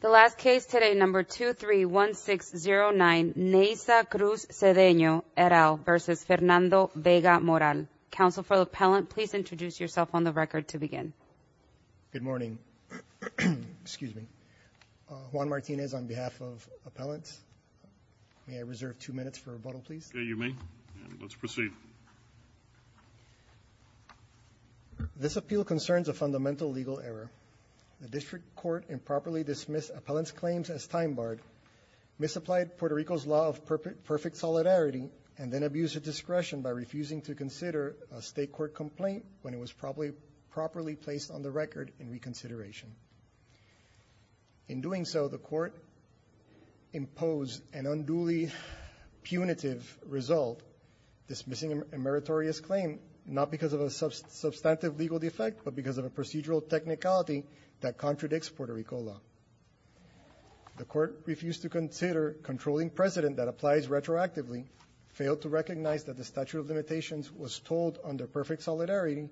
The last case today, number 231609 Neysa Cruz-Cedeno et al. v. Fernando Vega-Moral. Counsel for the appellant, please introduce yourself on the record to begin. Good morning. Excuse me. Juan Martinez on behalf of appellants. May I reserve two minutes for rebuttal, please? You may. Let's proceed. This appeal concerns a fundamental legal error. The district court improperly dismissed appellant's claims as time-barred, misapplied Puerto Rico's law of perfect solidarity, and then abused her discretion by refusing to consider a state court complaint when it was properly placed on the record in reconsideration. In doing so, the court imposed an unduly punitive result, dismissing a meritorious claim not because of a substantive legal defect but because of a procedural technicality that contradicts Puerto Rico law. The court refused to consider controlling precedent that applies retroactively, failed to recognize that the statute of limitations was told under perfect solidarity,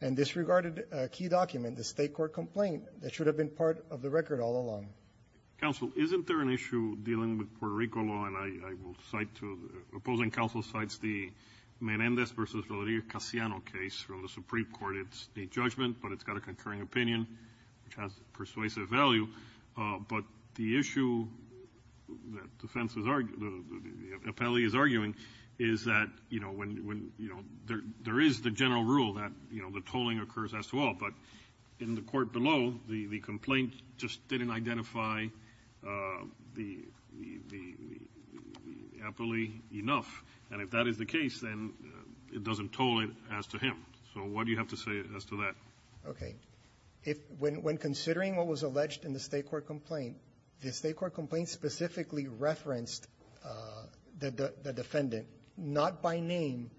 and disregarded a key document, the state court complaint, that should have been part of the record all along. Counsel, isn't there an issue dealing with Puerto Rico law? And I will cite to opposing counsel cites the Menendez v. Rodriguez-Casiano case from the Supreme Court. It's a judgment, but it's got a concurring opinion, which has persuasive value. But the issue that defense is arguing, the appellee is arguing, is that, you know, when, you know, there is the general rule that, you know, the tolling occurs as to all. But in the court below, the complaint just didn't identify the appellee enough. And if that is the case, then it doesn't toll it as to him. So what do you have to say as to that? When considering what was alleged in the state court complaint, the state court complaint specifically referenced the defendant, not by name,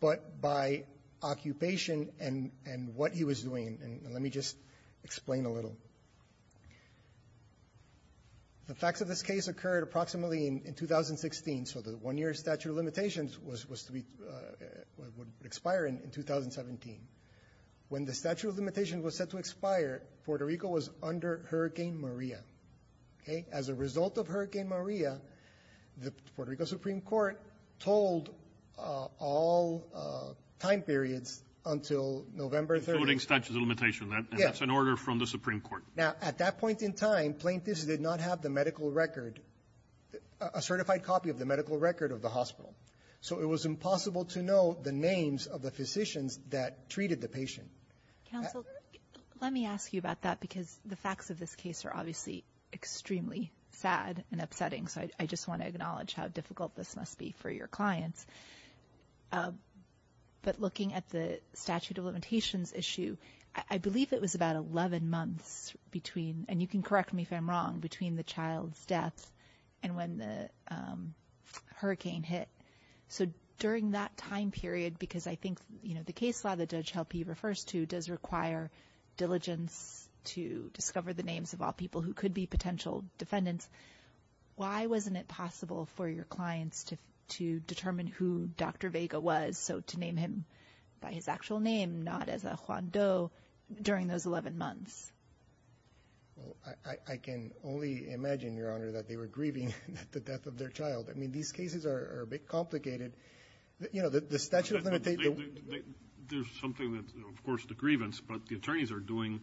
but by occupation and what he was doing. And let me just explain a little. The facts of this case occurred approximately in 2016. So the one-year statute of limitations was to be, would expire in 2017. When the statute of limitations was set to expire, Puerto Rico was under Hurricane Maria. Okay? As a result of Hurricane Maria, the Puerto Rico Supreme Court told all time periods until November 30th. Excluding statute of limitations. Yes. And that's an order from the Supreme Court. Now, at that point in time, plaintiffs did not have the medical record, a certified copy of the medical record of the hospital. So it was impossible to know the names of the physicians that treated the patient. Counsel, let me ask you about that, because the facts of this case are obviously extremely sad and upsetting. So I just want to acknowledge how difficult this must be for your clients. But looking at the statute of limitations issue, I believe it was about 11 months between, and you can correct me if I'm wrong, between the child's death and when the hurricane hit. So during that time period, because I think, you know, the case law that Judge Helpe refers to does require diligence to discover the names of all people who could be potential defendants. Why wasn't it possible for your clients to determine who Dr. Vega was, so to name him by his actual name, not as a Juan Do during those 11 months? Well, I can only imagine, Your Honor, that they were grieving the death of their child. I mean, these cases are a bit complicated. You know, the statute of limitations. There's something that, of course, the grievance, but the attorneys are doing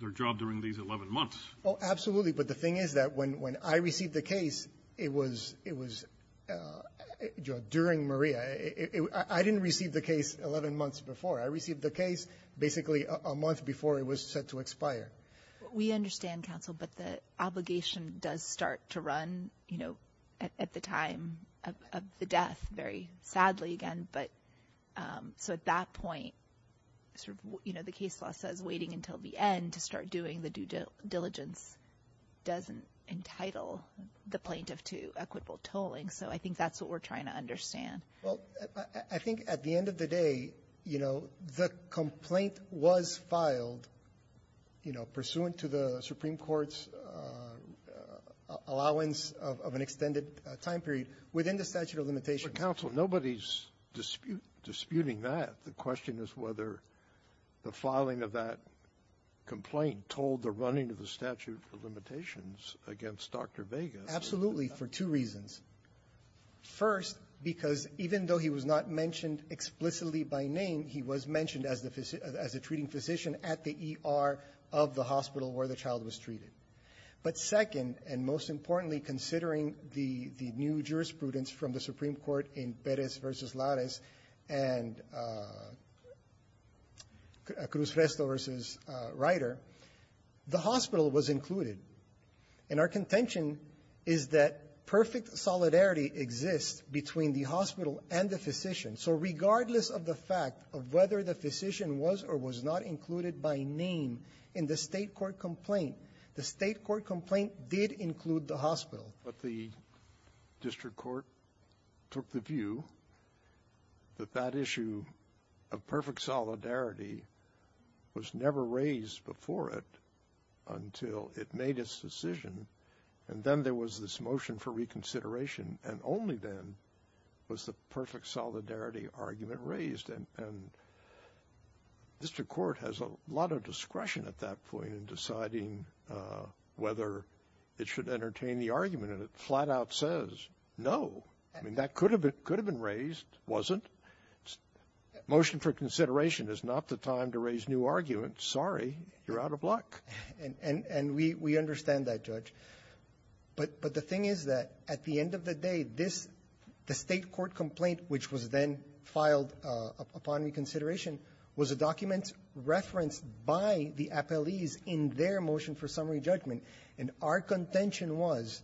their job during these 11 months. Oh, absolutely. But the thing is that when I received the case, it was during Maria. I didn't receive the case 11 months before. I received the case basically a month before it was set to expire. We understand, counsel, but the obligation does start to run, you know, at the time of the death, very sadly again. So at that point, you know, the case law says waiting until the end to start doing the due diligence doesn't entitle the plaintiff to equitable tolling. So I think that's what we're trying to understand. Well, I think at the end of the day, you know, the complaint was filed, you know, pursuant to the Supreme Court's allowance of an extended time period within the statute of limitations. But, counsel, nobody's disputing that. The question is whether the filing of that complaint told the running of the statute of limitations against Dr. Vegas. Absolutely, for two reasons. First, because even though he was not mentioned explicitly by name, he was mentioned as a treating physician at the ER of the hospital where the child was treated. But second, and most importantly, considering the new jurisprudence from the Supreme Court, which is the one that was passed by Juarez and Cruz-Resto versus Ryder, the hospital was included. And our contention is that perfect solidarity exists between the hospital and the So regardless of the fact of whether the physician was or was not included by name in the State court complaint, the State court complaint did include the hospital. But the district court took the view that that issue of perfect solidarity was never raised before it until it made its decision. And then there was this motion for reconsideration, and only then was the perfect solidarity argument raised. And district court has a lot of discretion at that point in deciding whether it should entertain the argument, and it flat-out says no. I mean, that could have been raised, wasn't. Motion for consideration is not the time to raise new arguments. Sorry, you're out of luck. And we understand that, Judge. But the thing is that at the end of the day, this State court complaint, which was then filed upon reconsideration, was a document referenced by the appellees in their motion for summary judgment. And our contention was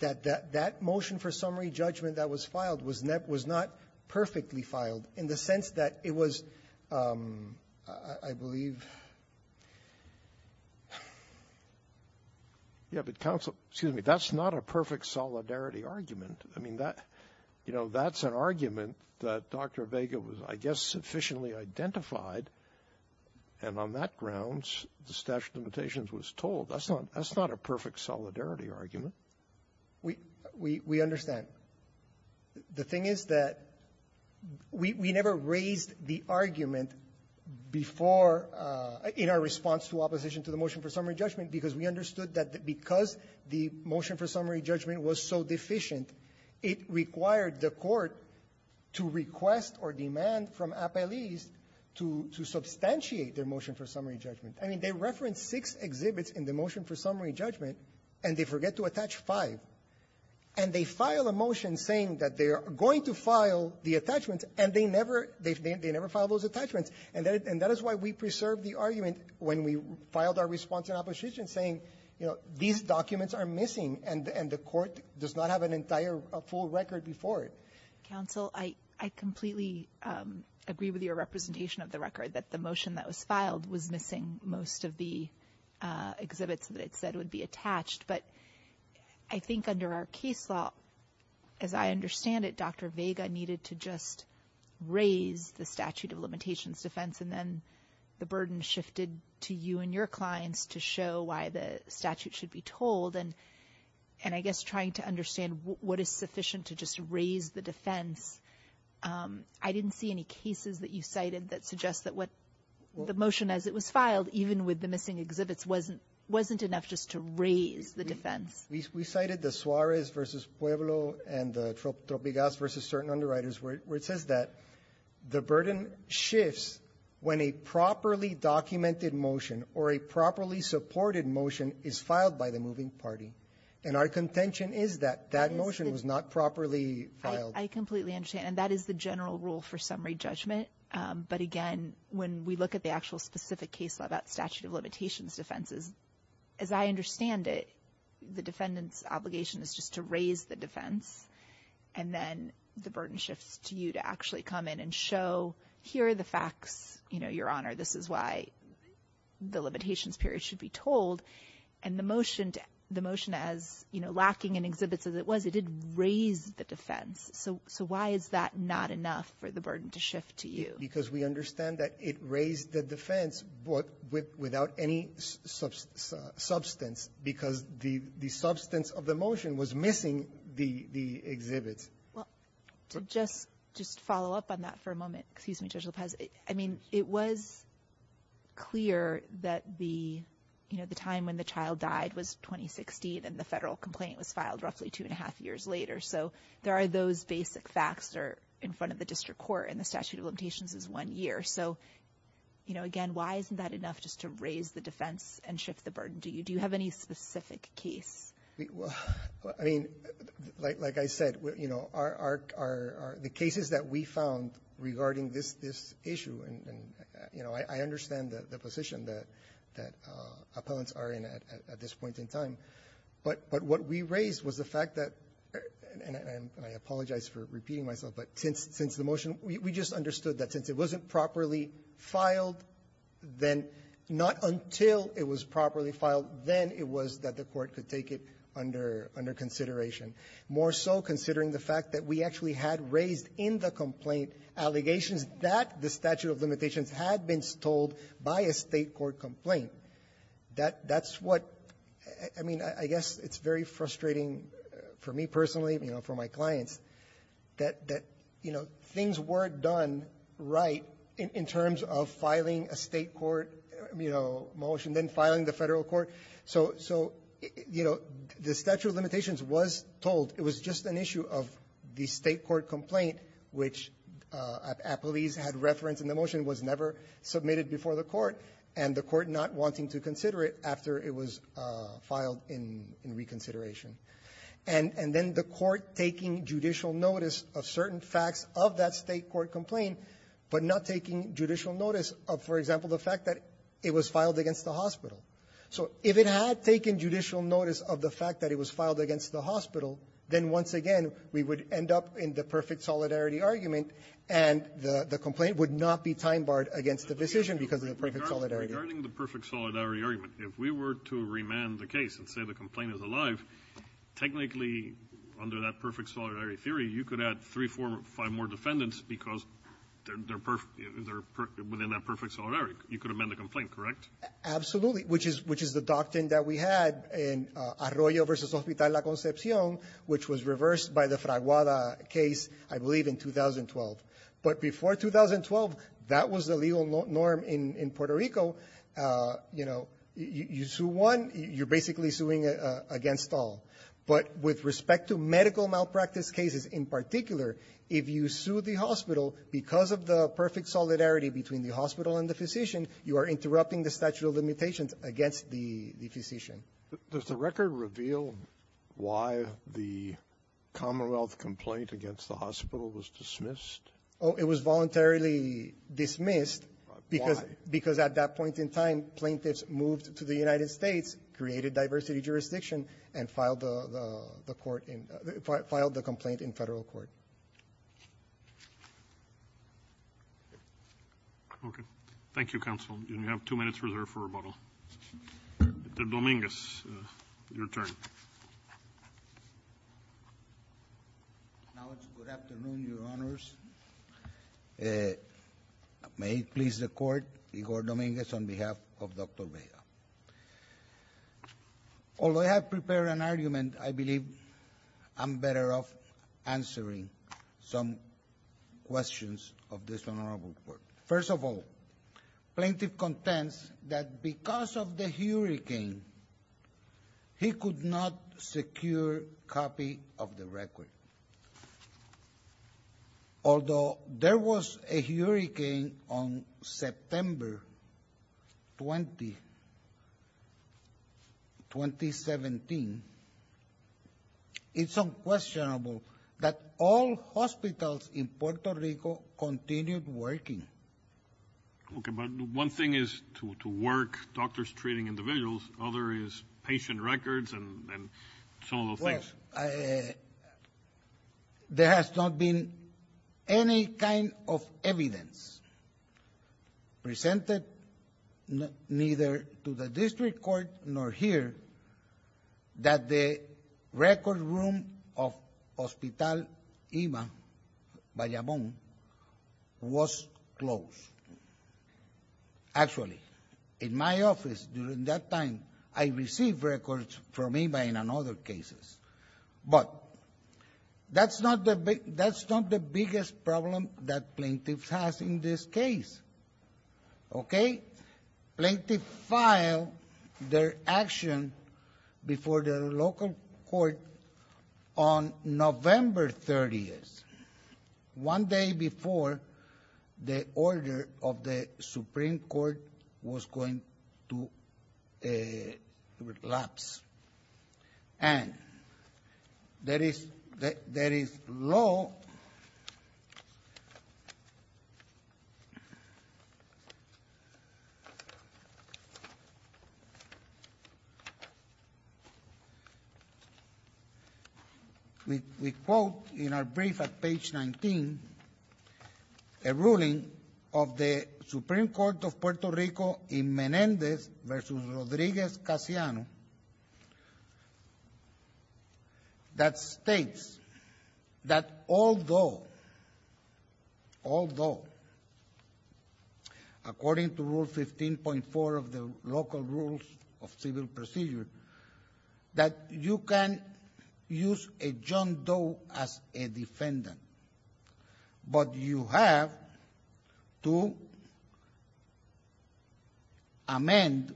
that that motion for summary judgment that was filed was not perfectly filed in the sense that it was, I believe ---- Scalia. Yeah, but counsel, excuse me, that's not a perfect solidarity argument. I mean, that's an argument that Dr. Vega was, I guess, sufficiently identified with, and on that grounds, the statute of limitations was told. That's not a perfect solidarity argument. We understand. The thing is that we never raised the argument before in our response to opposition to the motion for summary judgment because we understood that because the motion for summary judgment was so deficient, it required the court to request or demand from appellees to substantiate their motion for summary judgment. I mean, they referenced six exhibits in the motion for summary judgment, and they forget to attach five. And they file a motion saying that they are going to file the attachments, and they never ---- they never filed those attachments. And that is why we preserved the argument when we filed our response in opposition saying, you know, these documents are missing, and the court does not have an entire full record before it. Counsel, I completely agree with your representation of the record, that the motion that was filed was missing most of the exhibits that it said would be attached. But I think under our case law, as I understand it, Dr. Vega needed to just raise the statute of limitations defense, and then the burden shifted to you and your clients to show why the statute should be told. And I guess trying to understand what is sufficient to just raise the defense, I didn't see any cases that you cited that suggest that what the motion as it was filed, even with the missing exhibits, wasn't enough just to raise the defense. We cited the Suarez v. Pueblo and the Tropigas v. Certain Underwriters where it says that the burden shifts when a properly documented motion or a properly supported motion is filed by the moving party. And our contention is that that motion was not properly filed. I completely understand. And that is the general rule for summary judgment. But again, when we look at the actual specific case law about statute of limitations defenses, as I understand it, the defendant's obligation is just to raise the defense, and then the burden shifts to you to actually come in and show here are the facts, you know, Your Honor, this is why the limitations period should be told. And the motion to the motion as, you know, lacking in exhibits as it was, it did raise the defense. So why is that not enough for the burden to shift to you? Because we understand that it raised the defense, but without any substance, because the substance of the motion was missing the exhibits. Well, to just follow up on that for a moment. Excuse me, Judge Lopez. I mean, it was clear that the, you know, the time when the child died was 2016, and the federal complaint was filed roughly two and a half years later. So there are those basic facts that are in front of the district court, and the statute of limitations is one year. So, you know, again, why isn't that enough just to raise the defense and shift the burden to you? Do you have any specific case? Well, I mean, like I said, you know, the cases that we found regarding this issue, and, you know, I understand the position that appellants are in at this point in time. But what we raised was the fact that, and I apologize for repeating myself, but since the motion, we just understood that since it wasn't properly filed, then not until it was properly filed, then it was that the court could take it under consideration, more so considering the fact that we actually had raised in the complaint allegations that the statute of limitations had been told by a State court complaint. That's what, I mean, I guess it's very frustrating for me personally, you know, for my clients, that, you know, things weren't done right in terms of filing a State court, you know, motion, then filing the Federal court. So, you know, the statute of limitations was told. It was just an issue of the State court complaint, which appellees had referenced in the motion, was never submitted before the court, and the court not wanting to consider it after it was filed in reconsideration. And then the court takes notice of certain facts of that State court complaint, but not taking judicial notice of, for example, the fact that it was filed against the hospital. So if it had taken judicial notice of the fact that it was filed against the hospital, then once again, we would end up in the perfect solidarity argument, and the complaint would not be time-barred against the decision because of the perfect solidarity argument. If we were to remand the case and say the complaint is alive, technically, under that perfect solidarity theory, you could add three, four, five more defendants because they're within that perfect solidarity. You could amend the complaint, correct? Absolutely, which is the doctrine that we had in Arroyo v. Hospital La Concepcion, which was reversed by the Fraguada case, I believe, in 2012. But before 2012, that was the legal norm in Puerto Rico. You know, you sue one, you're basically suing against all. But with respect to medical malpractice cases in particular, if you sue the hospital because of the perfect solidarity between the hospital and the physician, you are interrupting the statute of limitations against the physician. Does the record reveal why the Commonwealth complaint against the hospital was dismissed? Oh, it was voluntarily dismissed. Why? Because at that point in time, plaintiffs moved to the United States, created diversity jurisdiction, and filed the court in the – filed the complaint in Federal Court. Okay. Thank you, counsel. You have two minutes reserved for rebuttal. Mr. Dominguez, your turn. Now, it's good afternoon, Your Honors. May it please the Court, Igor Dominguez, on behalf of Dr. Vega. Although I have prepared an argument, I believe I'm better off answering some questions of this Honorable Court. First of all, plaintiff contends that because of the hurricane, he could not secure copy of the record. Although there was a hurricane on September 20, 2017, it's unquestionable that all hospitals in Puerto Rico continued working. Okay, but one thing is to work doctors treating individuals, other is patient records and some of those things. Well, there has not been any kind of evidence presented neither to the district court nor here that the record room of Hospital IMA, Bayamón, was closed. Actually, in my office during that time, I received records from IMA in other cases. But that's not the biggest problem that plaintiffs have in this case. Okay? Plaintiff filed their action before the local court on November 30th, one day before the order of the Supreme Court was going to lapse. And there is law, we quote in our brief at page 19, a ruling of the Supreme Court of Puerto Rico in Menéndez v. Rodríguez-Casiano, that the Supreme Court of Puerto Rico, that states that although, according to Rule 15.4 of the local rules of civil procedure, that you can use a John Doe as a defendant, but you have to amend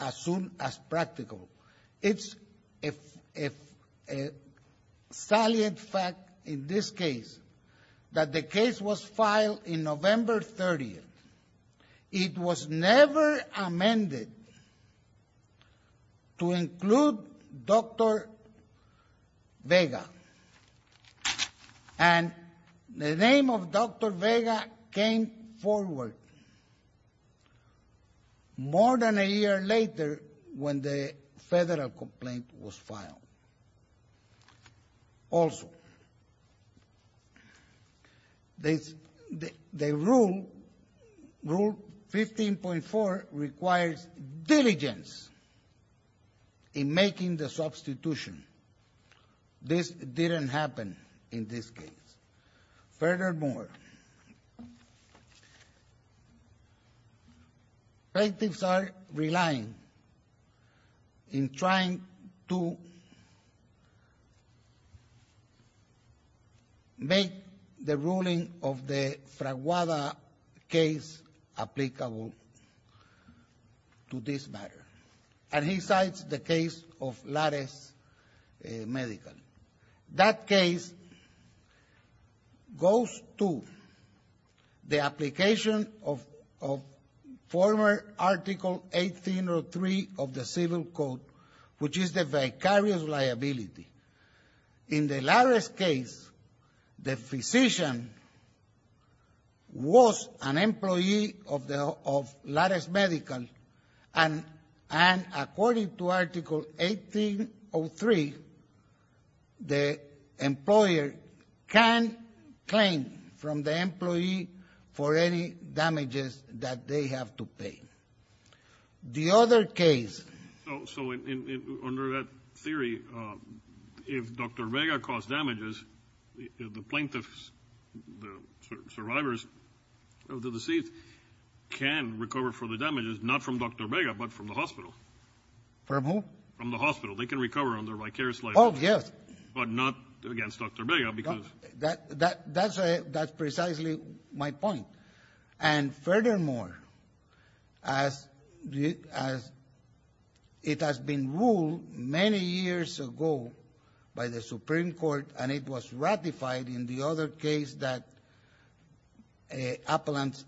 as soon as practical. It's a salient fact in this case that the case was filed on November 30th. It was never amended to include Dr. Vega. And the name of Dr. Vega came forward. More than a year later, when the federal complaint was filed. Also, the rule, Rule 15.4, requires diligence in making the substitution. This didn't happen in this case. Furthermore, plaintiffs are relying in trying to make the ruling of the Fraguada case applicable to this matter. And he cites the case of Lares Medical. That case goes to the application of former Article 1803 of the Civil Code, which is the vicarious liability. In the Lares case, the physician was an employee of Lares Medical, and according to Article 1803, the employer can claim from the employee for any damages that they have to pay. The other case. So under that theory, if Dr. Vega caused damages, the plaintiffs, the survivors of the decease, can recover for the damages, not from Dr. Vega, but from the hospital. From who? From the hospital. They can recover on their vicarious liability. Oh, yes. But not against Dr. Vega, because. That's precisely my point. And furthermore, as it has been ruled many years ago by the Supreme Court, and it was ratified in the other case that Appellant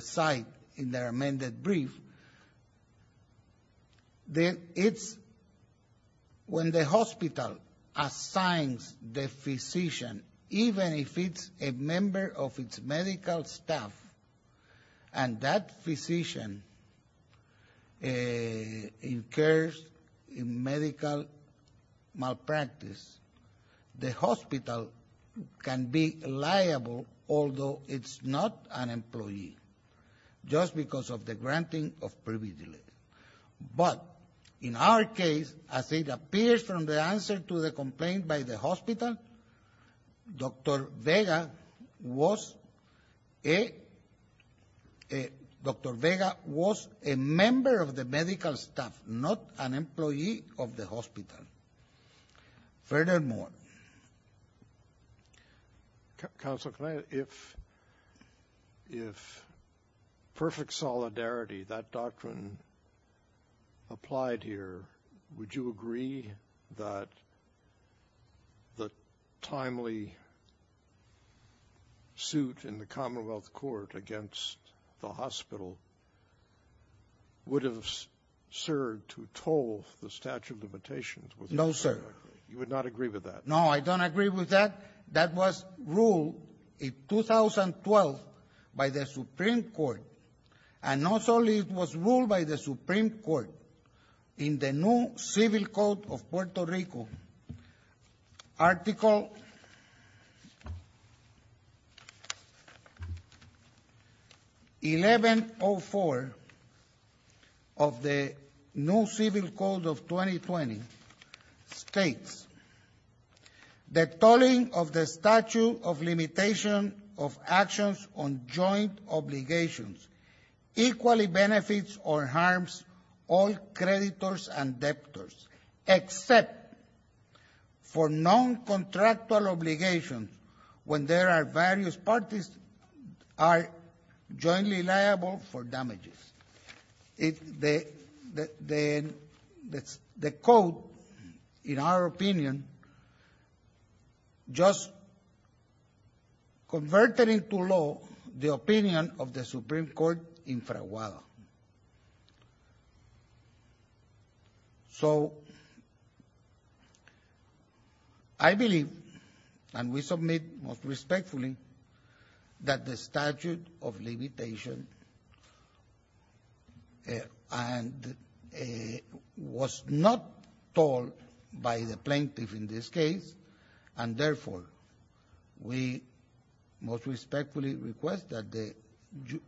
cite in their amended brief, then it's when the hospital assigns the physician, even if it's a member of its medical staff, and that physician incurs a medical malpractice, the hospital can be liable, although it's not an employee, just because of the granting of privilege. But in our case, as it appears from the answer to the complaint by the hospital, Dr. Vega was a member of the medical staff, not an employee of the hospital. Furthermore. Counsel, if perfect solidarity, that doctrine applied here, would you agree that the timely suit in the Commonwealth Court against the hospital would have served to toll the statute of limitations? No, sir. You would not agree with that. No, I don't agree with that. That was ruled in 2012 by the Supreme Court. And not only it was ruled by the Supreme Court, in the new Civil Code of Puerto Rico, it states, the tolling of the statute of limitation of actions on joint obligations equally benefits or harms all creditors and debtors, except for non-contractual obligations when there are various parties are jointly liable for damages. The code, in our opinion, just converted into law the opinion of the Supreme Court in Fraguada. So, I believe, and we submit most respectfully, that the statute of limitation was not told by the plaintiff in this case. And, therefore, we most respectfully request that the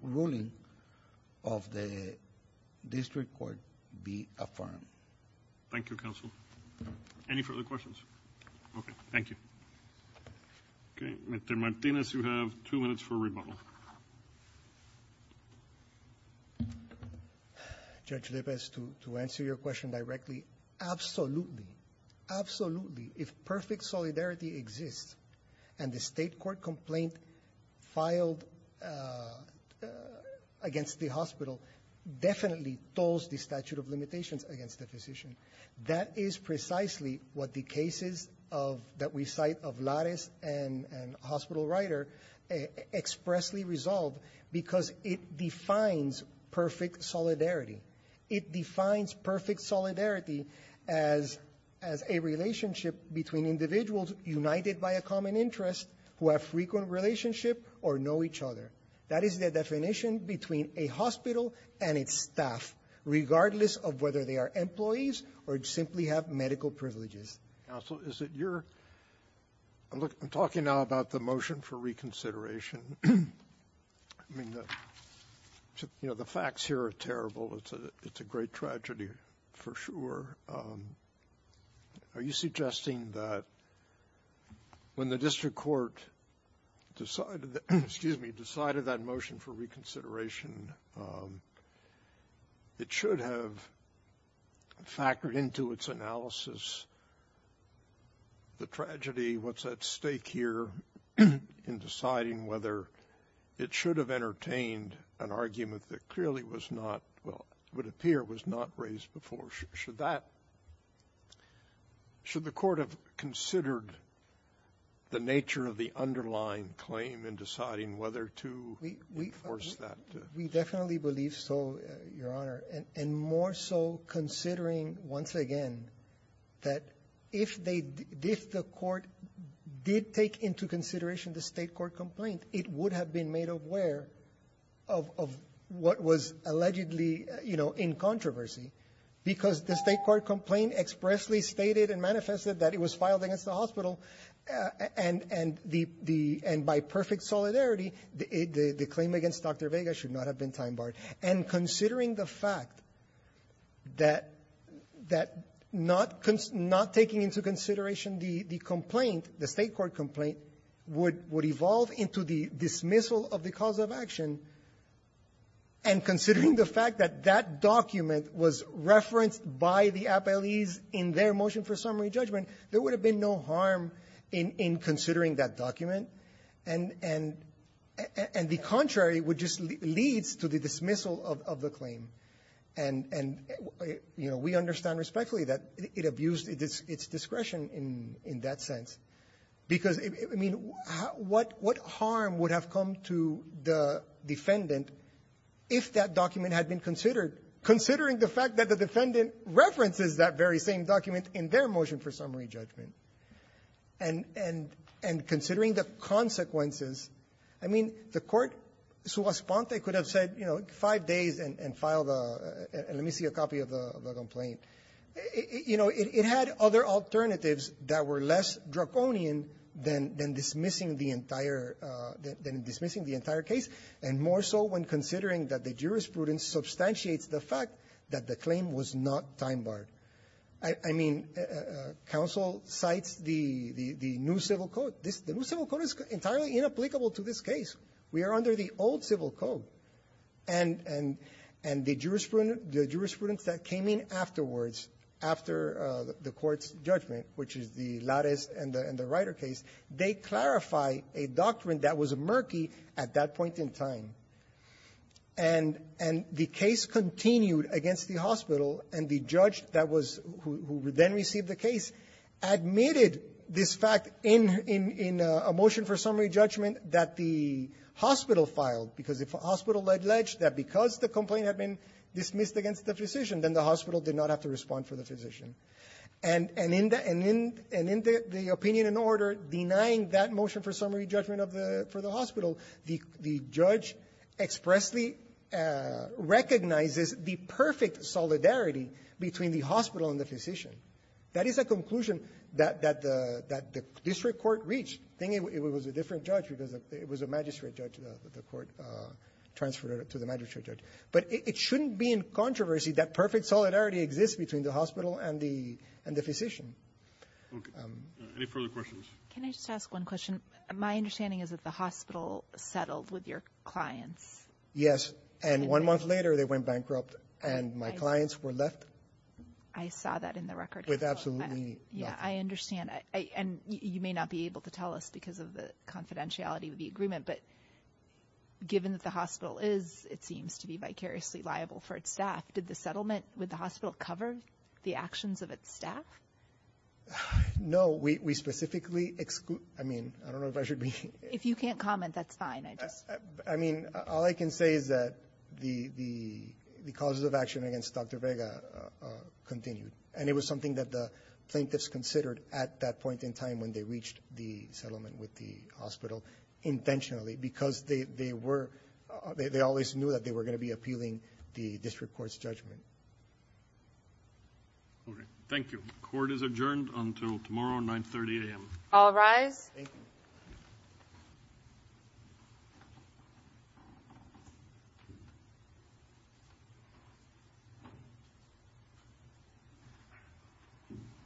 ruling of the district court be affirmed. Thank you, Counsel. Any further questions? Okay. Thank you. Okay. Mr. Martinez, you have two minutes for rebuttal. Judge Lepez, to answer your question directly, absolutely, absolutely, if perfect solidarity exists and the State court complaint filed against the hospital definitely tolls the statute of limitations against the physician, that is precisely what the cases of, that we cite of Larez and Hospital Rider expressly resolve because it defines perfect solidarity. It defines perfect solidarity as a relationship between individuals united by a common interest who have frequent relationship or know each other. That is the definition between a hospital and its staff, regardless of whether they are employees or simply have medical privileges. Counsel, is it your – I'm talking now about the motion for reconsideration. I mean, the facts here are terrible. It's a great tragedy for sure. Are you suggesting that when the district court decided that – excuse me, decided that motion for reconsideration, it should have factored into its analysis the tragedy, what's at stake here in deciding whether it should have entertained an argument that clearly was not – well, would appear was not raised before? Should that – should the Court have considered the nature of the underlying claim in deciding whether to enforce that? We definitely believe so, Your Honor, and more so considering once again that if they – if the Court did take into consideration the State court complaint, it would have been made aware of what was allegedly, you know, in controversy, because the State court complaint expressly stated and manifested that it was filed against the hospital, and the – and by perfect solidarity, the claim against Dr. Vega should not have been time-barred. And considering the fact that – that not – not taking into consideration the complaint, the State court complaint, would – would evolve into the dismissal of the cause of action, and considering the fact that that document was referenced by the appellees in their motion for summary judgment, there would have been no harm in – in considering that document, and – and the contrary would just – leads to the dismissal of – of the claim. And – and, you know, we understand respectfully that it abused its – its discretion in – in that sense, because, I mean, what – what harm would have come to the defendant if that document had been considered, considering the fact that the defendant references that very same document in their motion for summary judgment? And – and – and considering the consequences, I mean, the court, sua sponte, could have said, you know, five days and – and filed a – let me see a copy of the – of the complaint. You know, it – it had other alternatives that were less draconian than – than dismissing the entire – than dismissing the entire case, and more so when considering that the jurisprudence substantiates the fact that the claim was not time-barred. I – I mean, counsel cites the – the new civil code. This – the new civil code is entirely inapplicable to this case. We are under the old civil code. And – and the jurisprudence that came in afterwards, after the court's judgment, which is the case, they clarify a doctrine that was murky at that point in time. And – and the case continued against the hospital, and the judge that was – who then received the case admitted this fact in – in – in a motion for summary judgment that the hospital filed, because if a hospital alleged that because the complaint had been dismissed against the physician, then the hospital did not have to respond for the opinion in order, denying that motion for summary judgment of the – for the hospital. The – the judge expressly recognizes the perfect solidarity between the hospital and the physician. That is a conclusion that – that the – that the district court reached, thinking it was a different judge because it was a magistrate judge, the court transferred it to the magistrate judge. But it shouldn't be in controversy that perfect solidarity exists between the hospital and the – and the physician. Okay. Any further questions? Can I just ask one question? My understanding is that the hospital settled with your clients. Yes. And one month later, they went bankrupt, and my clients were left. I saw that in the record. With absolutely nothing. Yeah, I understand. I – and you may not be able to tell us because of the confidentiality of the agreement, but given that the hospital is, it seems to be precariously liable for its staff, did the settlement with the hospital cover the actions of its staff? No. We – we specifically – I mean, I don't know if I should be – If you can't comment, that's fine. I just – I mean, all I can say is that the – the causes of action against Dr. Vega continued. And it was something that the plaintiffs considered at that point in time when they reached the settlement with the hospital intentionally because they – they were – they always knew that they were going to be appealing the district court's judgment. All right. Thank you. Court is adjourned until tomorrow, 930 a.m. All rise. Thank you.